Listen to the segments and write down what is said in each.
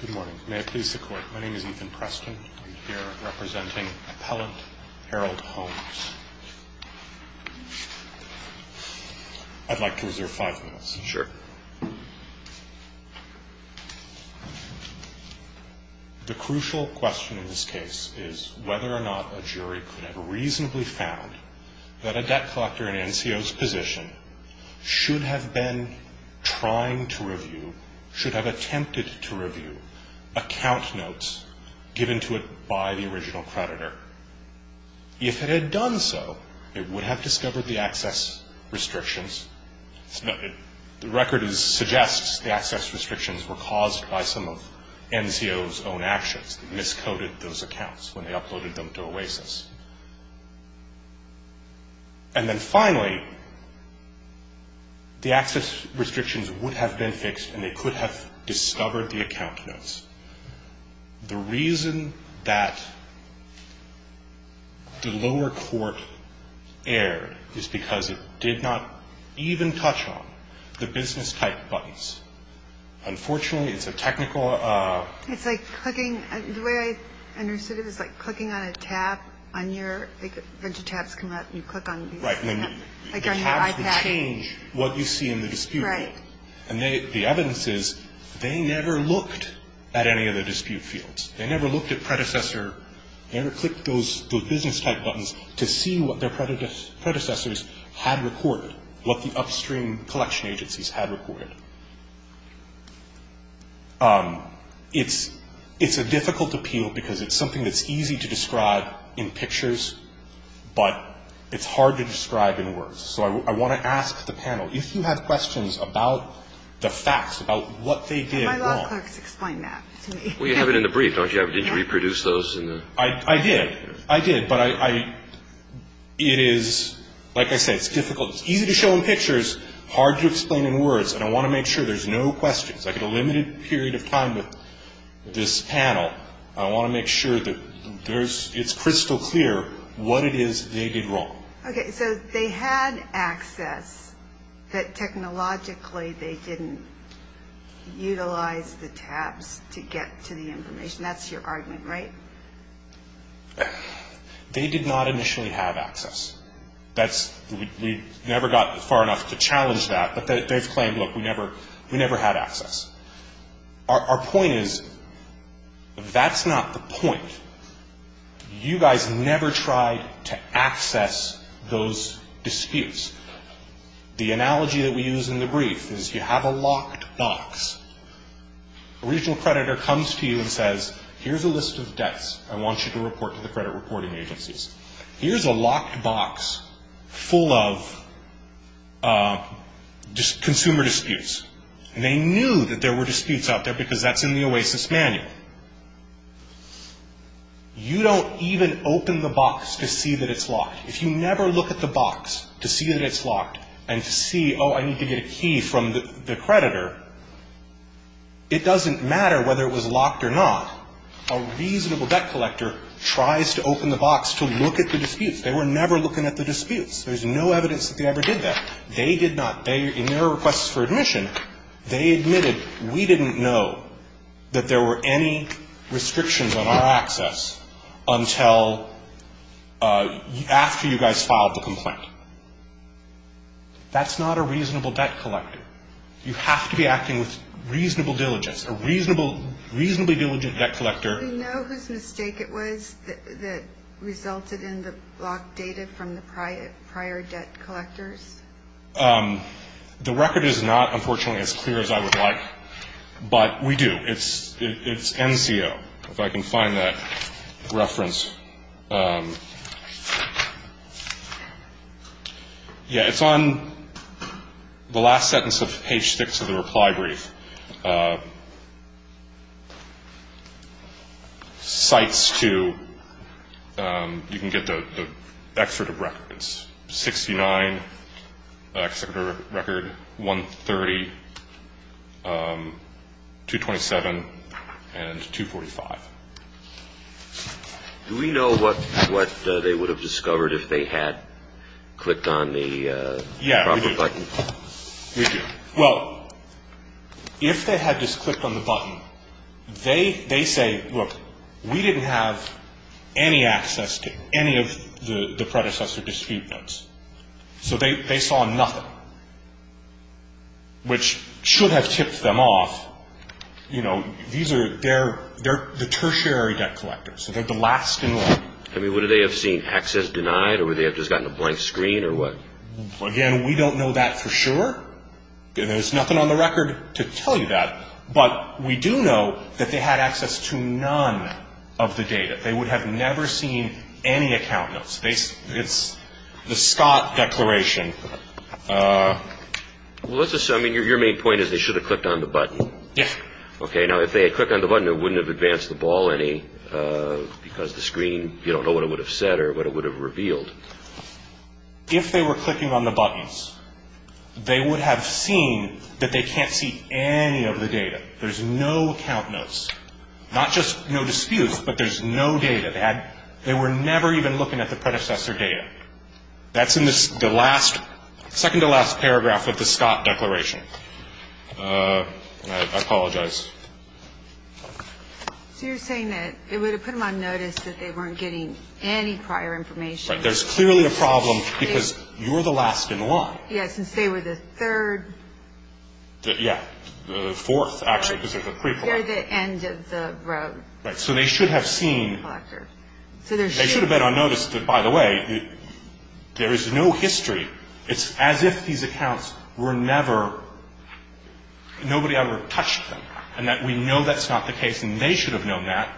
Good morning. May I please the Court? My name is Ethan Preston. I'm here representing Appellant Harold Holmes. I'd like to reserve five minutes. Sure. The crucial question in this case is whether or not a jury could have reasonably found that a debt collector in NCO's position should have been trying to review, should have attempted to review account notes given to it by the original creditor. If it had done so, it would have discovered the access restrictions. The record suggests the access restrictions were caused by some of NCO's own actions. They miscoded those accounts when they uploaded them to OASIS. And then finally, the access restrictions would have been fixed and they could have discovered the account notes. The reason that the lower court erred is because it did not even touch on the business-type buttons. Unfortunately, it's a technical – It's like clicking – the way I understood it is like clicking on a tab on your – like a bunch of tabs come up and you click on these tabs. Right. Like on your iPad. The tabs would change what you see in the disputable. Right. And the evidence is they never looked at any of the dispute fields. They never looked at predecessor – they never clicked those business-type buttons to see what their predecessors had recorded, what the upstream collection agencies had recorded. It's a difficult appeal because it's something that's easy to describe in pictures, but it's hard to describe in words. So I want to ask the panel, if you have questions about the facts, about what they did wrong – My law clerks explain that to me. Well, you have it in the brief, don't you? Yeah. Didn't you reproduce those in the – I did. I did. But I – it is – like I said, it's difficult – it's easy to show in pictures, hard to explain in words. And I want to make sure there's no questions. Like in a limited period of time with this panel, I want to make sure that there's – it's crystal clear what it is they did wrong. Okay. So they had access, but technologically they didn't utilize the tabs to get to the information. That's your argument, right? They did not initially have access. That's – we never got far enough to challenge that, but they've claimed, look, we never had access. Our point is that's not the point. You guys never tried to access those disputes. The analogy that we use in the brief is you have a locked box. A regional creditor comes to you and says, here's a list of debts. I want you to report to the credit reporting agencies. Here's a locked box full of consumer disputes. And they knew that there were disputes out there because that's in the OASIS manual. You don't even open the box to see that it's locked. If you never look at the box to see that it's locked and to see, oh, I need to get a key from the creditor, it doesn't matter whether it was locked or not. A reasonable debt collector tries to open the box to look at the disputes. They were never looking at the disputes. There's no evidence that they ever did that. In their requests for admission, they admitted we didn't know that there were any restrictions on our access until after you guys filed the complaint. That's not a reasonable debt collector. You have to be acting with reasonable diligence. It's a reasonably diligent debt collector. Do we know whose mistake it was that resulted in the locked data from the prior debt collectors? The record is not, unfortunately, as clear as I would like, but we do. It's NCO, if I can find that reference. Yeah, it's on the last sentence of page 6 of the reply brief. Cites to, you can get the excerpt of records, 69, the excerpt of record, 130, 227, and 245. Do we know what they would have discovered if they had clicked on the proper button? Yeah, we do. We do. Well, if they had just clicked on the button, they say, look, we didn't have any access to any of the predecessor dispute notes. So they saw nothing, which should have tipped them off. You know, these are, they're the tertiary debt collectors, so they're the last in line. I mean, would they have seen access denied, or would they have just gotten a blank screen, or what? Again, we don't know that for sure. There's nothing on the record to tell you that. But we do know that they had access to none of the data. They would have never seen any account notes. It's the Scott Declaration. Well, let's assume, I mean, your main point is they should have clicked on the button. Yes. Okay, now, if they had clicked on the button, it wouldn't have advanced the ball any, because the screen, you don't know what it would have said or what it would have revealed. If they were clicking on the buttons, they would have seen that they can't see any of the data. There's no account notes. Not just no disputes, but there's no data. They were never even looking at the predecessor data. That's in the second-to-last paragraph of the Scott Declaration. I apologize. So you're saying that it would have put them on notice that they weren't getting any prior information. Right. There's clearly a problem, because you're the last in line. Yes, since they were the third. Yeah, the fourth, actually, because they're the pre-collector. They're the end of the road. Right. So they should have seen. They should have been on notice that, by the way, there is no history. It's as if these accounts were never, nobody ever touched them, and that we know that's not the case, and they should have known that,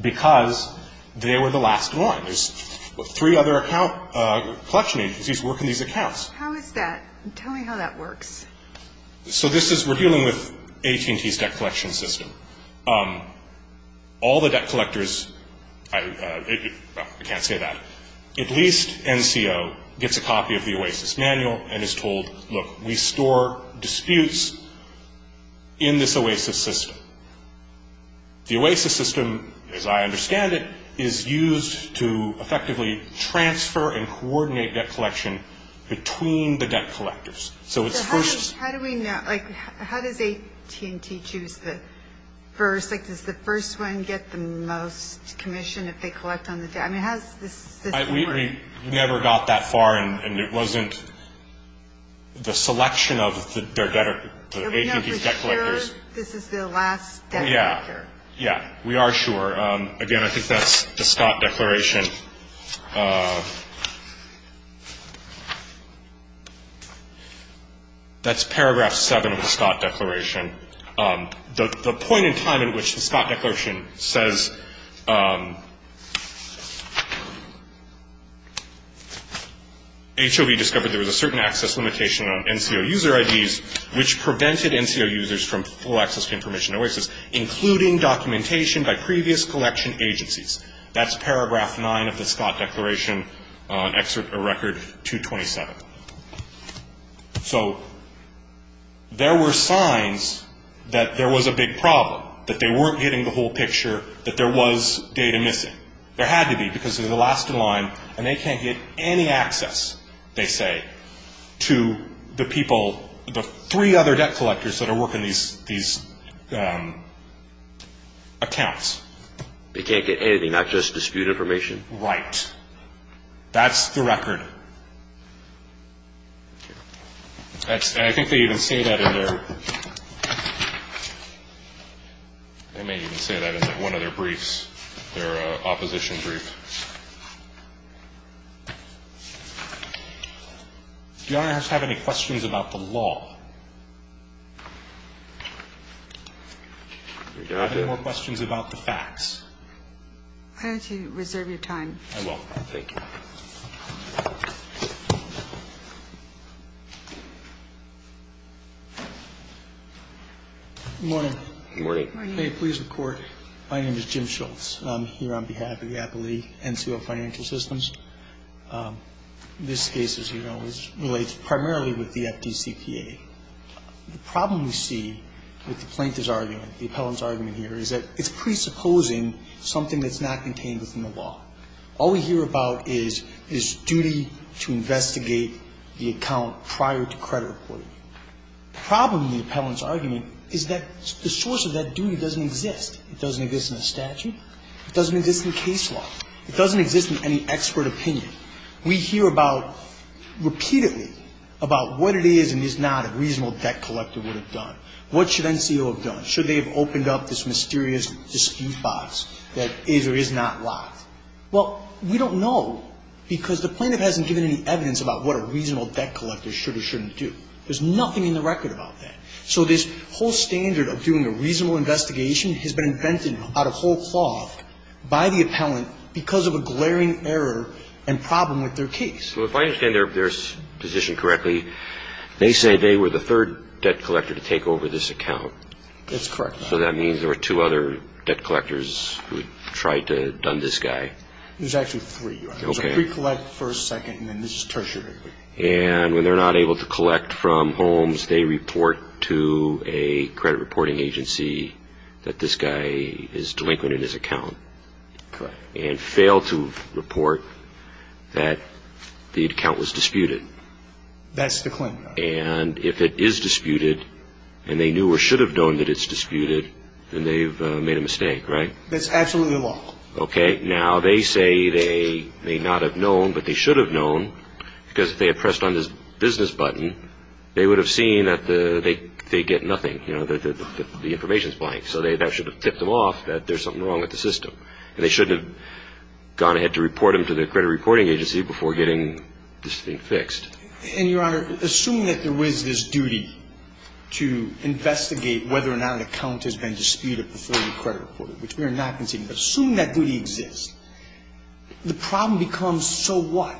because they were the last one. There's three other collection agencies working these accounts. How is that? Tell me how that works. So this is, we're dealing with AT&T's debt collection system. All the debt collectors, I can't say that, at least NCO gets a copy of the OASIS manual and is told, look, we store disputes in this OASIS system. The OASIS system, as I understand it, is used to effectively transfer and coordinate debt collection between the debt collectors. So how do we know, like, how does AT&T choose the first? Like, does the first one get the most commission if they collect on the debt? I mean, how does this system work? We never got that far, and it wasn't the selection of the AT&T debt collectors. Are we not sure this is the last debt collector? Yeah. Yeah, we are sure. Again, I think that's the Scott Declaration. That's paragraph 7 of the Scott Declaration. The point in time in which the Scott Declaration says, HOV discovered there was a certain access limitation on NCO user IDs, which prevented NCO users from full access to information in OASIS, including documentation by previous collection agencies. That's paragraph 9 of the Scott Declaration, Excerpt of Record 227. So there were signs that there was a big problem, that they weren't getting the whole picture, that there was data missing. There had to be, because they're the last in line, and they can't get any access, they say, to the people, the three other debt collectors that are working these accounts. They can't get anything, not just dispute information? Right. That's the record. I think they even say that in their – they may even say that in one of their briefs, their opposition brief. Do Your Honor have any questions about the law? I have no more questions about the facts. Why don't you reserve your time. I will. Thank you. Good morning. Good morning. May it please the Court, my name is Jim Schultz. I'm here on behalf of the Appellee NCO Financial Systems. This case, as you know, relates primarily with the FDCPA. The problem we see with the Plaintiff's argument, the appellant's argument here, is that it's presupposing something that's not contained within the law. All we hear about is, it is duty to investigate the account prior to credit reporting. The problem with the appellant's argument is that the source of that duty doesn't exist. It doesn't exist in the statute. It doesn't exist in case law. It doesn't exist in any expert opinion. We hear about, repeatedly, about what it is and is not a reasonable debt collector would have done. What should NCO have done? Should they have opened up this mysterious dispute box that is or is not locked? Well, we don't know because the Plaintiff hasn't given any evidence about what a reasonable debt collector should or shouldn't do. There's nothing in the record about that. So this whole standard of doing a reasonable investigation has been invented out of by the appellant because of a glaring error and problem with their case. Well, if I understand their position correctly, they say they were the third debt collector to take over this account. That's correct, Your Honor. So that means there were two other debt collectors who tried to done this guy. There's actually three, Your Honor. Okay. There's a pre-collect, first, second, and then this is tertiary. And when they're not able to collect from Holmes, they report to a credit reporting agency that this guy is delinquent in his account. Correct. And fail to report that the account was disputed. That's the claim, Your Honor. And if it is disputed and they knew or should have known that it's disputed, then they've made a mistake, right? That's absolutely wrong. Okay. Now they say they may not have known but they should have known because if they had pressed on this business button, they would have seen that they get nothing. You know, the information is blank. So that should have tipped them off that there's something wrong with the system. And they shouldn't have gone ahead to report him to the credit reporting agency before getting this thing fixed. And, Your Honor, assuming that there was this duty to investigate whether or not an account has been disputed before you credit report it, which we are not conceding, but assuming that duty exists, the problem becomes so what?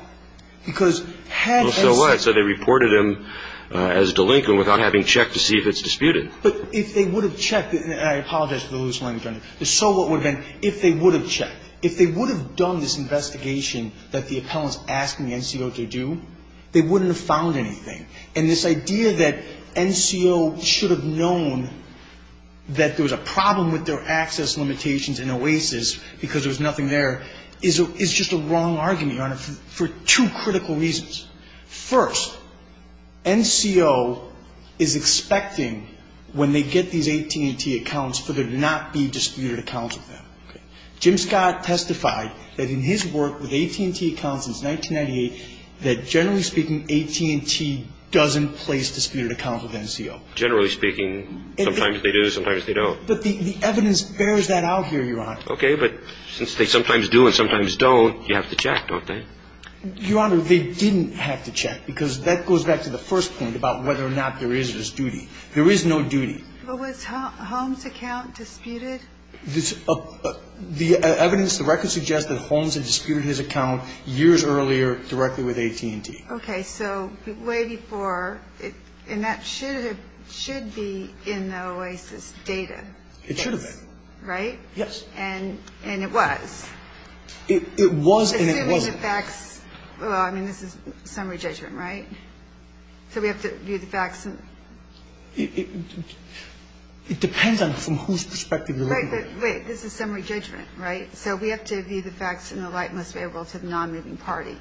Because had Edson So what? So they reported him as a delinquent without having checked to see if it's disputed. But if they would have checked, and I apologize for the loose language on this, but so what would have been if they would have checked? If they would have done this investigation that the appellant is asking the NCO to do, they wouldn't have found anything. And this idea that NCO should have known that there was a problem with their access limitations in OASIS because there was nothing there is just a wrong argument, Your Honor, for two critical reasons. First, NCO is expecting when they get these AT&T accounts for there to not be disputed accounts with them. Jim Scott testified that in his work with AT&T accounts since 1998, that generally speaking AT&T doesn't place disputed accounts with NCO. Generally speaking, sometimes they do, sometimes they don't. But the evidence bears that out here, Your Honor. Okay, but since they sometimes do and sometimes don't, you have to check, don't they? Your Honor, they didn't have to check because that goes back to the first point about whether or not there is this duty. There is no duty. But was Holmes' account disputed? The evidence directly suggests that Holmes had disputed his account years earlier directly with AT&T. Okay, so way before, and that should be in the OASIS data. It should have been. Right? Yes. And it was. It was and it wasn't. Assuming the facts, I mean, this is summary judgment, right? So we have to view the facts. It depends on from whose perspective you're looking at it. Right, but wait, this is summary judgment, right? So we have to view the facts in the light most favorable to the non-moving party.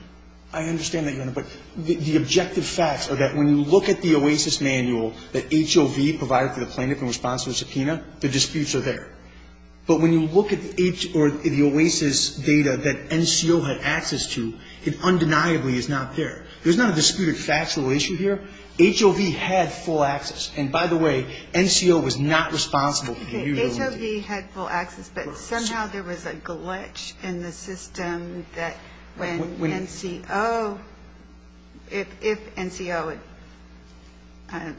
I understand that, Your Honor. But the objective facts are that when you look at the OASIS manual that HOV provided to the plaintiff in response to a subpoena, the disputes are there. But when you look at the OASIS data that NCO had access to, it undeniably is not there. There's not a disputed factual issue here. HOV had full access. And by the way, NCO was not responsible for the review. Okay, HOV had full access, but somehow there was a glitch in the system that when NCO if NCO had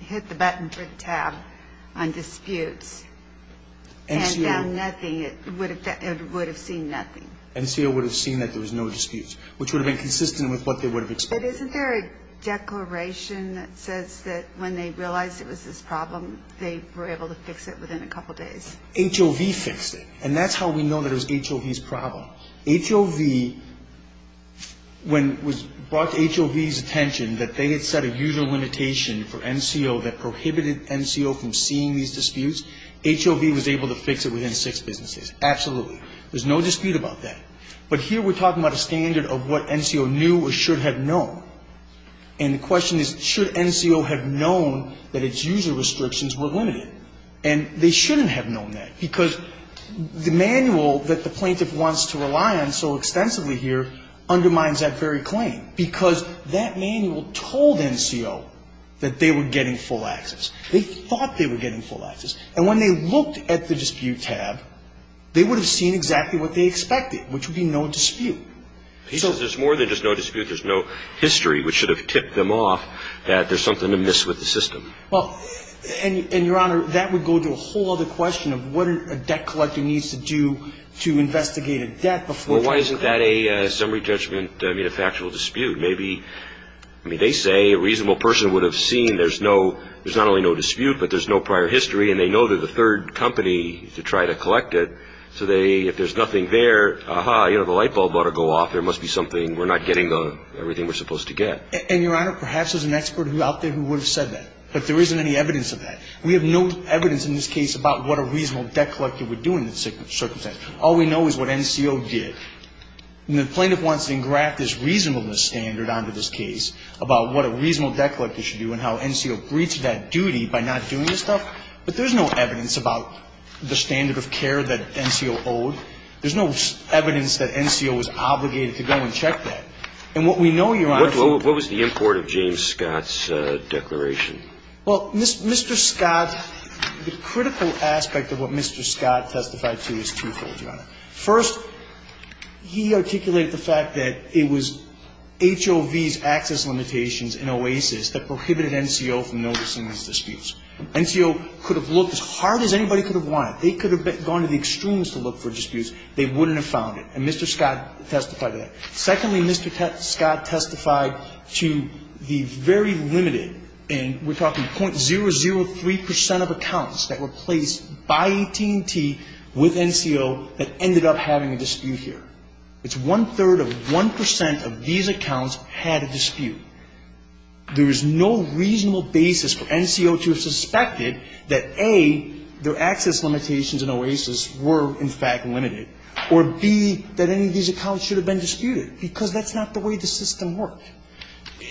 hit the button for the tab on disputes, and found nothing, it would have seen nothing. NCO would have seen that there was no disputes, which would have been consistent with what they would have expected. But isn't there a declaration that says that when they realized it was this problem, they were able to fix it within a couple days? HOV fixed it. And that's how we know that it was HOV's problem. HOV, when it was brought to HOV's attention that they had set a user limitation for NCO that prohibited NCO from seeing these disputes, HOV was able to fix it within six business days. Absolutely. There's no dispute about that. But here we're talking about a standard of what NCO knew or should have known. And the question is, should NCO have known that its user restrictions were limited? And they shouldn't have known that, because the manual that the plaintiff wants to rely on so extensively here undermines that very claim, because that manual told NCO that they were getting full access. They thought they were getting full access. And when they looked at the dispute tab, they would have seen exactly what they expected, which would be no dispute. He says there's more than just no dispute. There's no history which should have tipped them off that there's something to miss with the system. Well, and, Your Honor, that would go to a whole other question of what a debt collector needs to do to investigate a debt before trying to collect it. Well, why isn't that a summary judgment, I mean, a factual dispute? Maybe, I mean, they say a reasonable person would have seen there's not only no dispute, but there's no prior history. And they know they're the third company to try to collect it. So if there's nothing there, aha, you know, the light bulb ought to go off. There must be something. We're not getting everything we're supposed to get. And, Your Honor, perhaps there's an expert out there who would have said that. But there isn't any evidence of that. We have no evidence in this case about what a reasonable debt collector would do in that circumstance. All we know is what NCO did. And the plaintiff wants to engraft this reasonableness standard onto this case about what a reasonable debt collector should do and how NCO breached that duty by not doing this stuff. But there's no evidence about the standard of care that NCO owed. There's no evidence that NCO was obligated to go and check that. And what we know, Your Honor ---- What was the import of James Scott's declaration? Well, Mr. Scott, the critical aspect of what Mr. Scott testified to is twofold, Your Honor. First, he articulated the fact that it was HOV's access limitations in OASIS that prohibited NCO from noticing these disputes. NCO could have looked as hard as anybody could have wanted. They could have gone to the extremes to look for disputes. They wouldn't have found it. And Mr. Scott testified to that. Secondly, Mr. Scott testified to the very limited, and we're talking .003 percent of accounts that were placed by AT&T with NCO that ended up having a dispute here. It's one-third of 1 percent of these accounts had a dispute. There is no reasonable basis for NCO to have suspected that, A, their access limitations in OASIS were, in fact, limited, or, B, that any of these accounts should have been disputed, because that's not the way the system worked.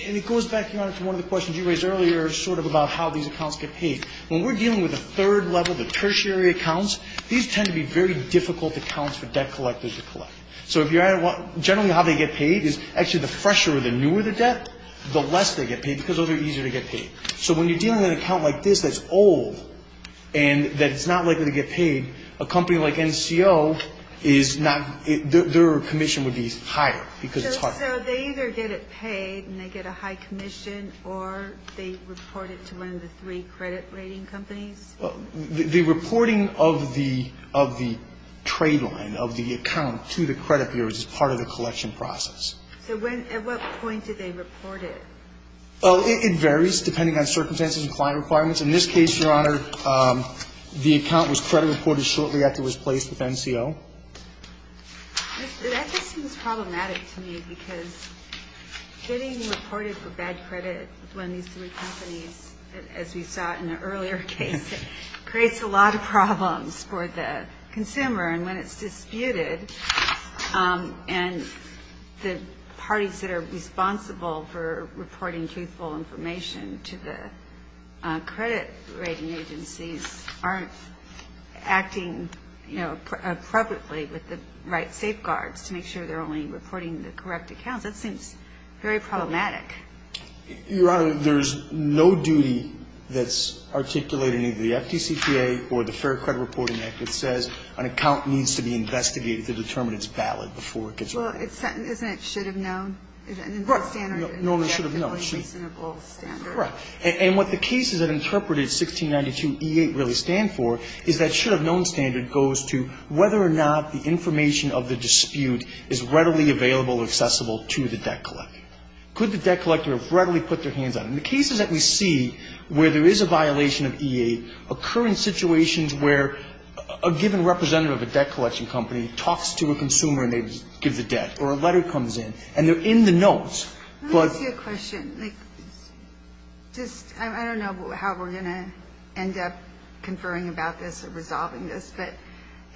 And it goes back, Your Honor, to one of the questions you raised earlier sort of about how these accounts get paid. When we're dealing with a third level, the tertiary accounts, these tend to be very difficult accounts for debt collectors to collect. So if you're ---- Generally, how they get paid is actually the fresher or the newer the debt, the less they get paid, because those are easier to get paid. So when you're dealing with an account like this that's old and that's not likely to get paid, a company like NCO is not ---- their commission would be higher, because it's harder. So they either get it paid and they get a high commission, or they report it to one of the three credit rating companies? The reporting of the ---- of the trade line, of the account to the credit bureaus is part of the collection process. So when ---- at what point do they report it? Oh, it varies depending on circumstances and client requirements. In this case, Your Honor, the account was credit reported shortly after it was placed with NCO. That just seems problematic to me, because getting reported for bad credit with one of these three companies, as we saw in the earlier case, creates a lot of problems for the consumer. And when it's disputed, and the parties that are responsible for reporting truthful information to the credit rating agencies aren't acting, you know, appropriately with the right safeguards to make sure they're only reporting the correct accounts, that seems very problematic. Your Honor, there's no duty that's articulated in either the FDCPA or the Fair Credit Reporting Act that says an account needs to be investigated to determine its ballot before it gets reported. Well, isn't it should have known? Right. Normally should have known. Correct. And what the cases that interpreted 1692E8 really stand for is that should have known standard goes to whether or not the information of the dispute is readily available or accessible to the debt collector. Could the debt collector have readily put their hands on it? In the cases that we see where there is a violation of E8 occur in situations where a given representative of a debt collection company talks to a consumer and they give the debt or a letter comes in and they're in the notes. Let me ask you a question. I don't know how we're going to end up conferring about this or resolving this, but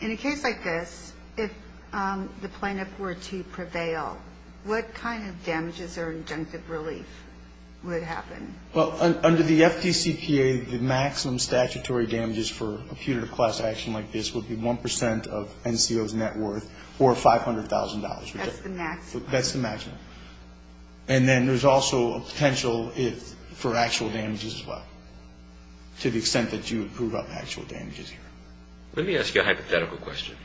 in a case like this, if the plaintiff were to prevail, what kind of damages or injunctive relief would happen? Well, under the FDCPA, the maximum statutory damages for a punitive class action like this would be 1 percent of NCO's net worth or $500,000. That's the maximum? That's the maximum. And then there's also a potential for actual damages as well, to the extent that you would prove up actual damages here. Let me ask you a hypothetical question.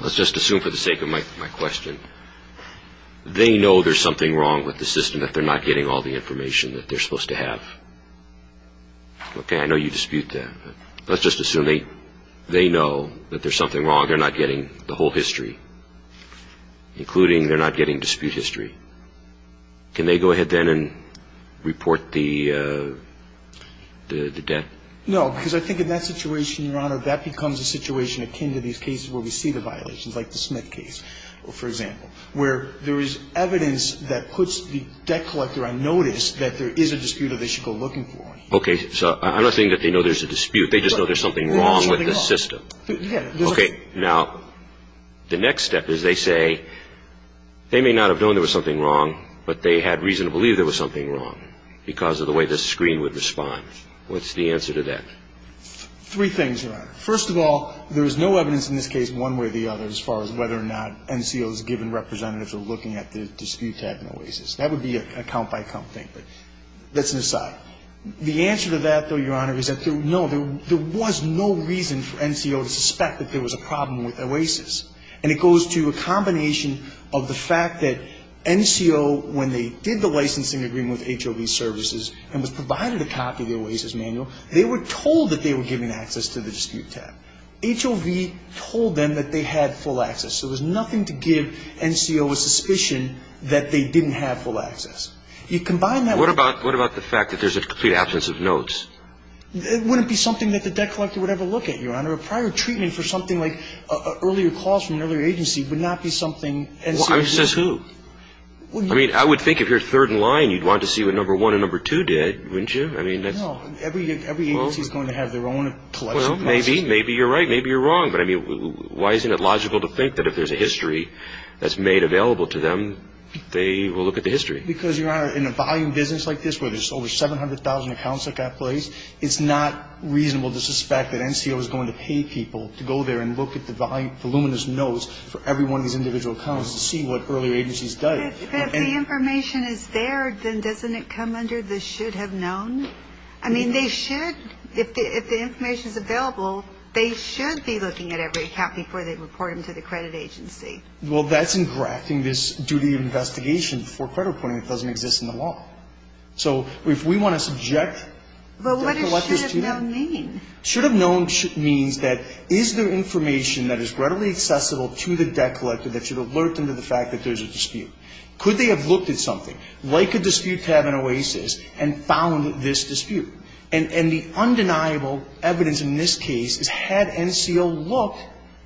Let's just assume for the sake of my question, they know there's something wrong with the system that they're not getting all the information that they're supposed to have. Okay, I know you dispute that. Let's just assume they know that there's something wrong. They're not getting the whole history, including they're not getting dispute history. Can they go ahead then and report the debt? No, because I think in that situation, Your Honor, that becomes a situation akin to these cases where we see the violations, like the Smith case, for example, where there is evidence that puts the debt collector on notice that there is a dispute that they should go looking for. Okay. So I don't think that they know there's a dispute. They just know there's something wrong with the system. Okay. Now, the next step is they say they may not have known there was something wrong, but they had reason to believe there was something wrong because of the way the screen would respond. What's the answer to that? Three things, Your Honor. First of all, there is no evidence in this case one way or the other as far as whether or not NCOs given representatives are looking at the dispute tab in OASIS. That would be a count-by-count thing, but that's an aside. The answer to that, though, Your Honor, is that, no, there was no reason for NCO to suspect that there was a problem with OASIS. And it goes to a combination of the fact that NCO, when they did the licensing agreement with HOV Services and was provided a copy of the OASIS manual, they were told that they were given access to the dispute tab. HOV told them that they had full access. So there's nothing to give NCO a suspicion that they didn't have full access. You combine that with the fact that there's a dispute. There's a complete absence of notes. It wouldn't be something that the debt collector would ever look at, Your Honor. A prior treatment for something like earlier calls from an earlier agency would not be something NCOs did. Says who? I mean, I would think if you're third in line, you'd want to see what number one and number two did, wouldn't you? No. Every agency is going to have their own collection policy. Well, maybe. Maybe you're right. Maybe you're wrong. But, I mean, why isn't it logical to think that if there's a history that's made available to them, they will look at the history? Because, Your Honor, in a volume business like this, where there's over 700,000 accounts that got placed, it's not reasonable to suspect that NCO is going to pay people to go there and look at the voluminous notes for every one of these individual accounts to see what earlier agencies did. If the information is there, then doesn't it come under the should have known? I mean, they should. If the information is available, they should be looking at every account before they report them to the credit agency. Well, that's engrafting this duty of investigation before credit reporting. It doesn't exist in the law. So if we want to subject debt collectors to it. But what does should have known mean? Should have known means that is there information that is readily accessible to the debt collector that should alert them to the fact that there's a dispute? Could they have looked at something, like a dispute tab in OASIS, and found this dispute? And the undeniable evidence in this case is had NCO looked,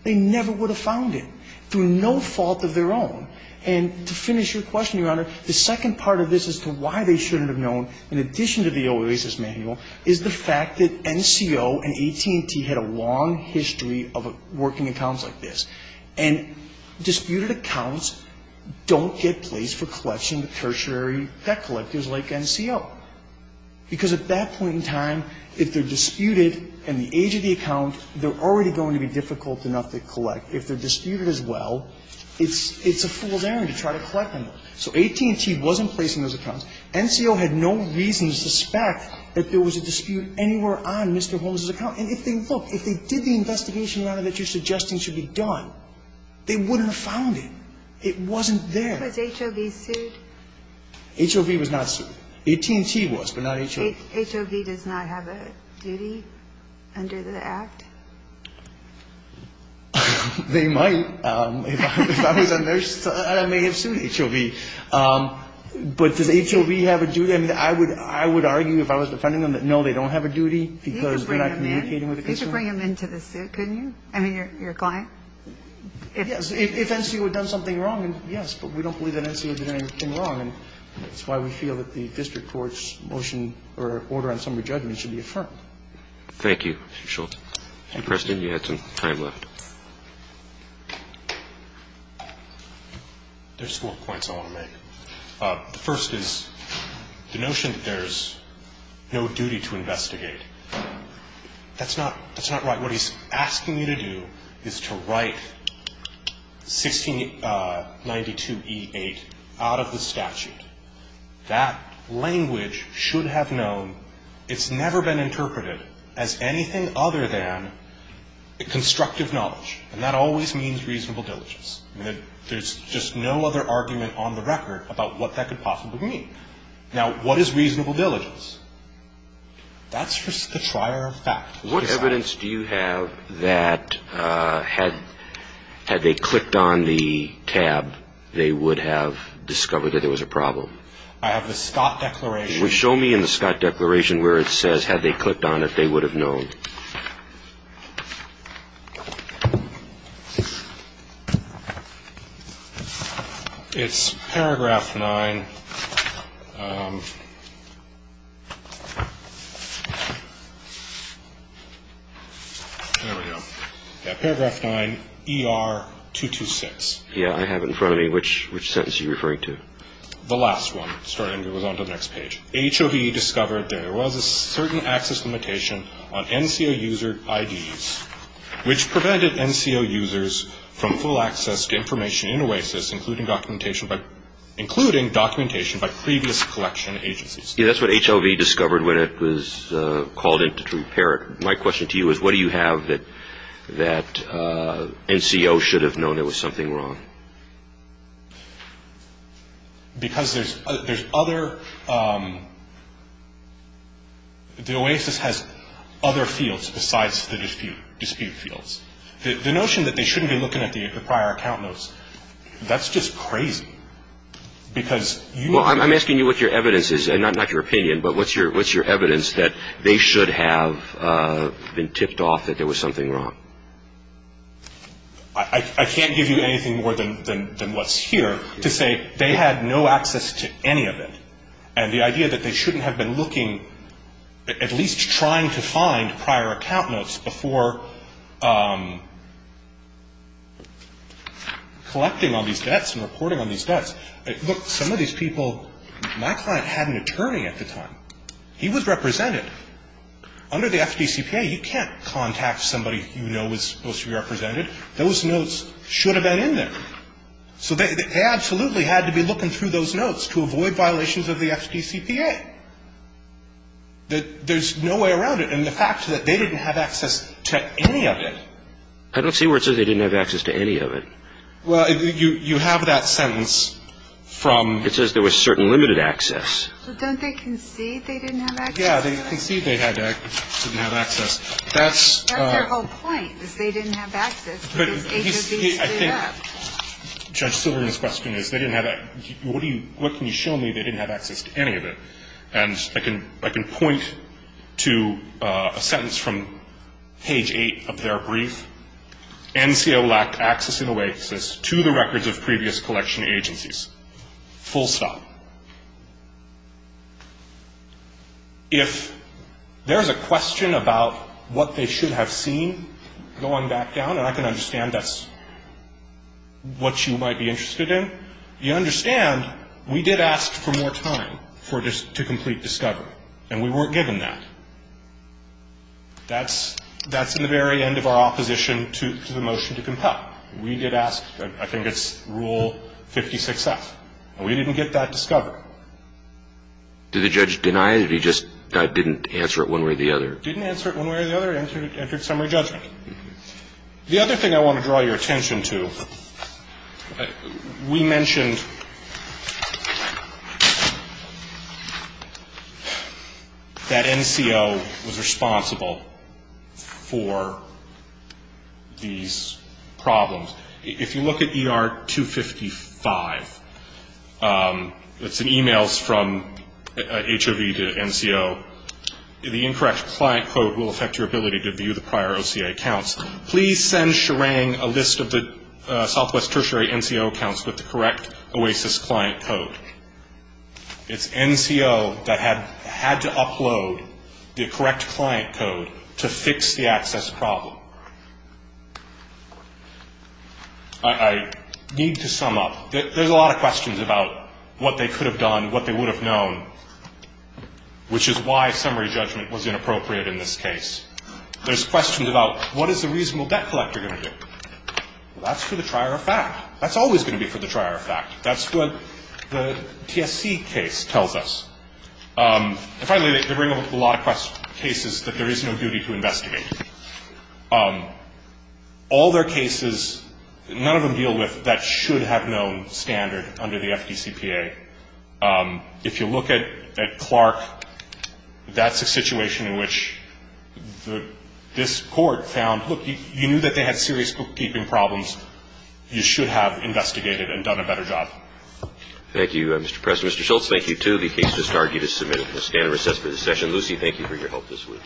they never would have found it. Through no fault of their own. And to finish your question, Your Honor, the second part of this as to why they shouldn't have known, in addition to the OASIS manual, is the fact that NCO and AT&T had a long history of working accounts like this. And disputed accounts don't get placed for collection to tertiary debt collectors like NCO. Because at that point in time, if they're disputed and the age of the account, they're already going to be difficult enough to collect. If they're disputed as well, it's a fool's errand to try to collect them. So AT&T wasn't placing those accounts. NCO had no reason to suspect that there was a dispute anywhere on Mr. Holmes' account. And if they looked, if they did the investigation, Your Honor, that you're suggesting should be done, they wouldn't have found it. It wasn't there. Was HOV sued? HOV was not sued. AT&T was, but not HOV. HOV does not have a duty under the Act? They might. If I was a nurse, I may have sued HOV. But does HOV have a duty? I mean, I would argue, if I was defending them, that no, they don't have a duty because they're not communicating with the consumer. You could bring them in. You could bring them into the suit, couldn't you? I mean, your client. Yes. If NCO had done something wrong, yes. But we don't believe that NCO did anything wrong. And that's why we feel that the district court's motion or order on summary judgment should be affirmed. Thank you. Mr. Shultz. Mr. Preston, you had some time left. There's four points I want to make. The first is the notion that there's no duty to investigate. That's not right. What he's asking you to do is to write 1692E8 out of the statute. That language should have known. It's never been interpreted as anything other than constructive knowledge. And that always means reasonable diligence. There's just no other argument on the record about what that could possibly mean. Now, what is reasonable diligence? That's just the trier of fact. What evidence do you have that had they clicked on the tab, they would have discovered that there was a problem? I have the Scott Declaration. Show me in the Scott Declaration where it says, had they clicked on it, they would have known. It's paragraph 9. There we go. Yeah, paragraph 9, ER 226. Yeah, I have it in front of me. Which sentence are you referring to? The last one. Sorry, I'm going to move on to the next page. HOV discovered there was a certain access limitation on NCO user IDs, which prevented NCO users from full access to information in OASIS, including documentation by previous collection agencies. Yeah, that's what HOV discovered when it was called in to prepare it. My question to you is, what do you have that NCO should have known there was something wrong? Because there's other, the OASIS has other fields besides the dispute fields. The notion that they shouldn't be looking at the prior account notes, that's just crazy. Well, I'm asking you what your evidence is, and not your opinion, but what's your evidence that they should have been tipped off that there was something wrong? I can't give you anything more than what's here to say they had no access to any of it, and the idea that they shouldn't have been looking, at least trying to find prior account notes before collecting on these debts and reporting on these debts. Look, some of these people, my client had an attorney at the time. He was represented. Under the FDCPA, you can't contact somebody you know is supposed to be represented. Those notes should have been in there. So they absolutely had to be looking through those notes to avoid violations of the FDCPA. And the fact that they didn't have access to any of it. I don't see where it says they didn't have access to any of it. Well, you have that sentence from. It says there was certain limited access. So don't they concede they didn't have access to it? Yeah, they concede they didn't have access. That's their whole point, is they didn't have access. But I think Judge Silverman's question is they didn't have access. What can you show me they didn't have access to any of it? And I can point to a sentence from page 8 of their brief. NCO lacked access in a way, it says, to the records of previous collection agencies. Full stop. If there's a question about what they should have seen going back down, and I can understand that's what you might be interested in, you understand we did ask for more time to complete discovery. And we weren't given that. That's in the very end of our opposition to the motion to compel. We did ask, I think it's Rule 56F. And we didn't get that discovery. Did the judge deny it, or he just didn't answer it one way or the other? Didn't answer it one way or the other, entered summary judgment. The other thing I want to draw your attention to, we mentioned that NCO was responsible for these problems. If you look at ER 255, it's in e-mails from HOV to NCO, the incorrect client code will affect your ability to view the prior OCA accounts. Please send Sherang a list of the Southwest Tertiary NCO accounts with the correct OASIS client code. It's NCO that had to upload the correct client code to fix the access problem. I need to sum up. There's a lot of questions about what they could have done, what they would have known, which is why summary judgment was inappropriate in this case. There's questions about what is the reasonable debt collector going to do? That's for the trier of fact. That's always going to be for the trier of fact. That's what the TSC case tells us. And finally, they bring up a lot of cases that there is no duty to investigate. All their cases, none of them deal with that should-have-known standard under the FDCPA. If you look at Clark, that's a situation in which this Court found, look, you knew that they had serious bookkeeping problems. You should have investigated and done a better job. Thank you, Mr. Preston. Mr. Schultz, thank you, too. The case has now been submitted. We'll stand and recess for this session. Lucy, thank you for your help this week.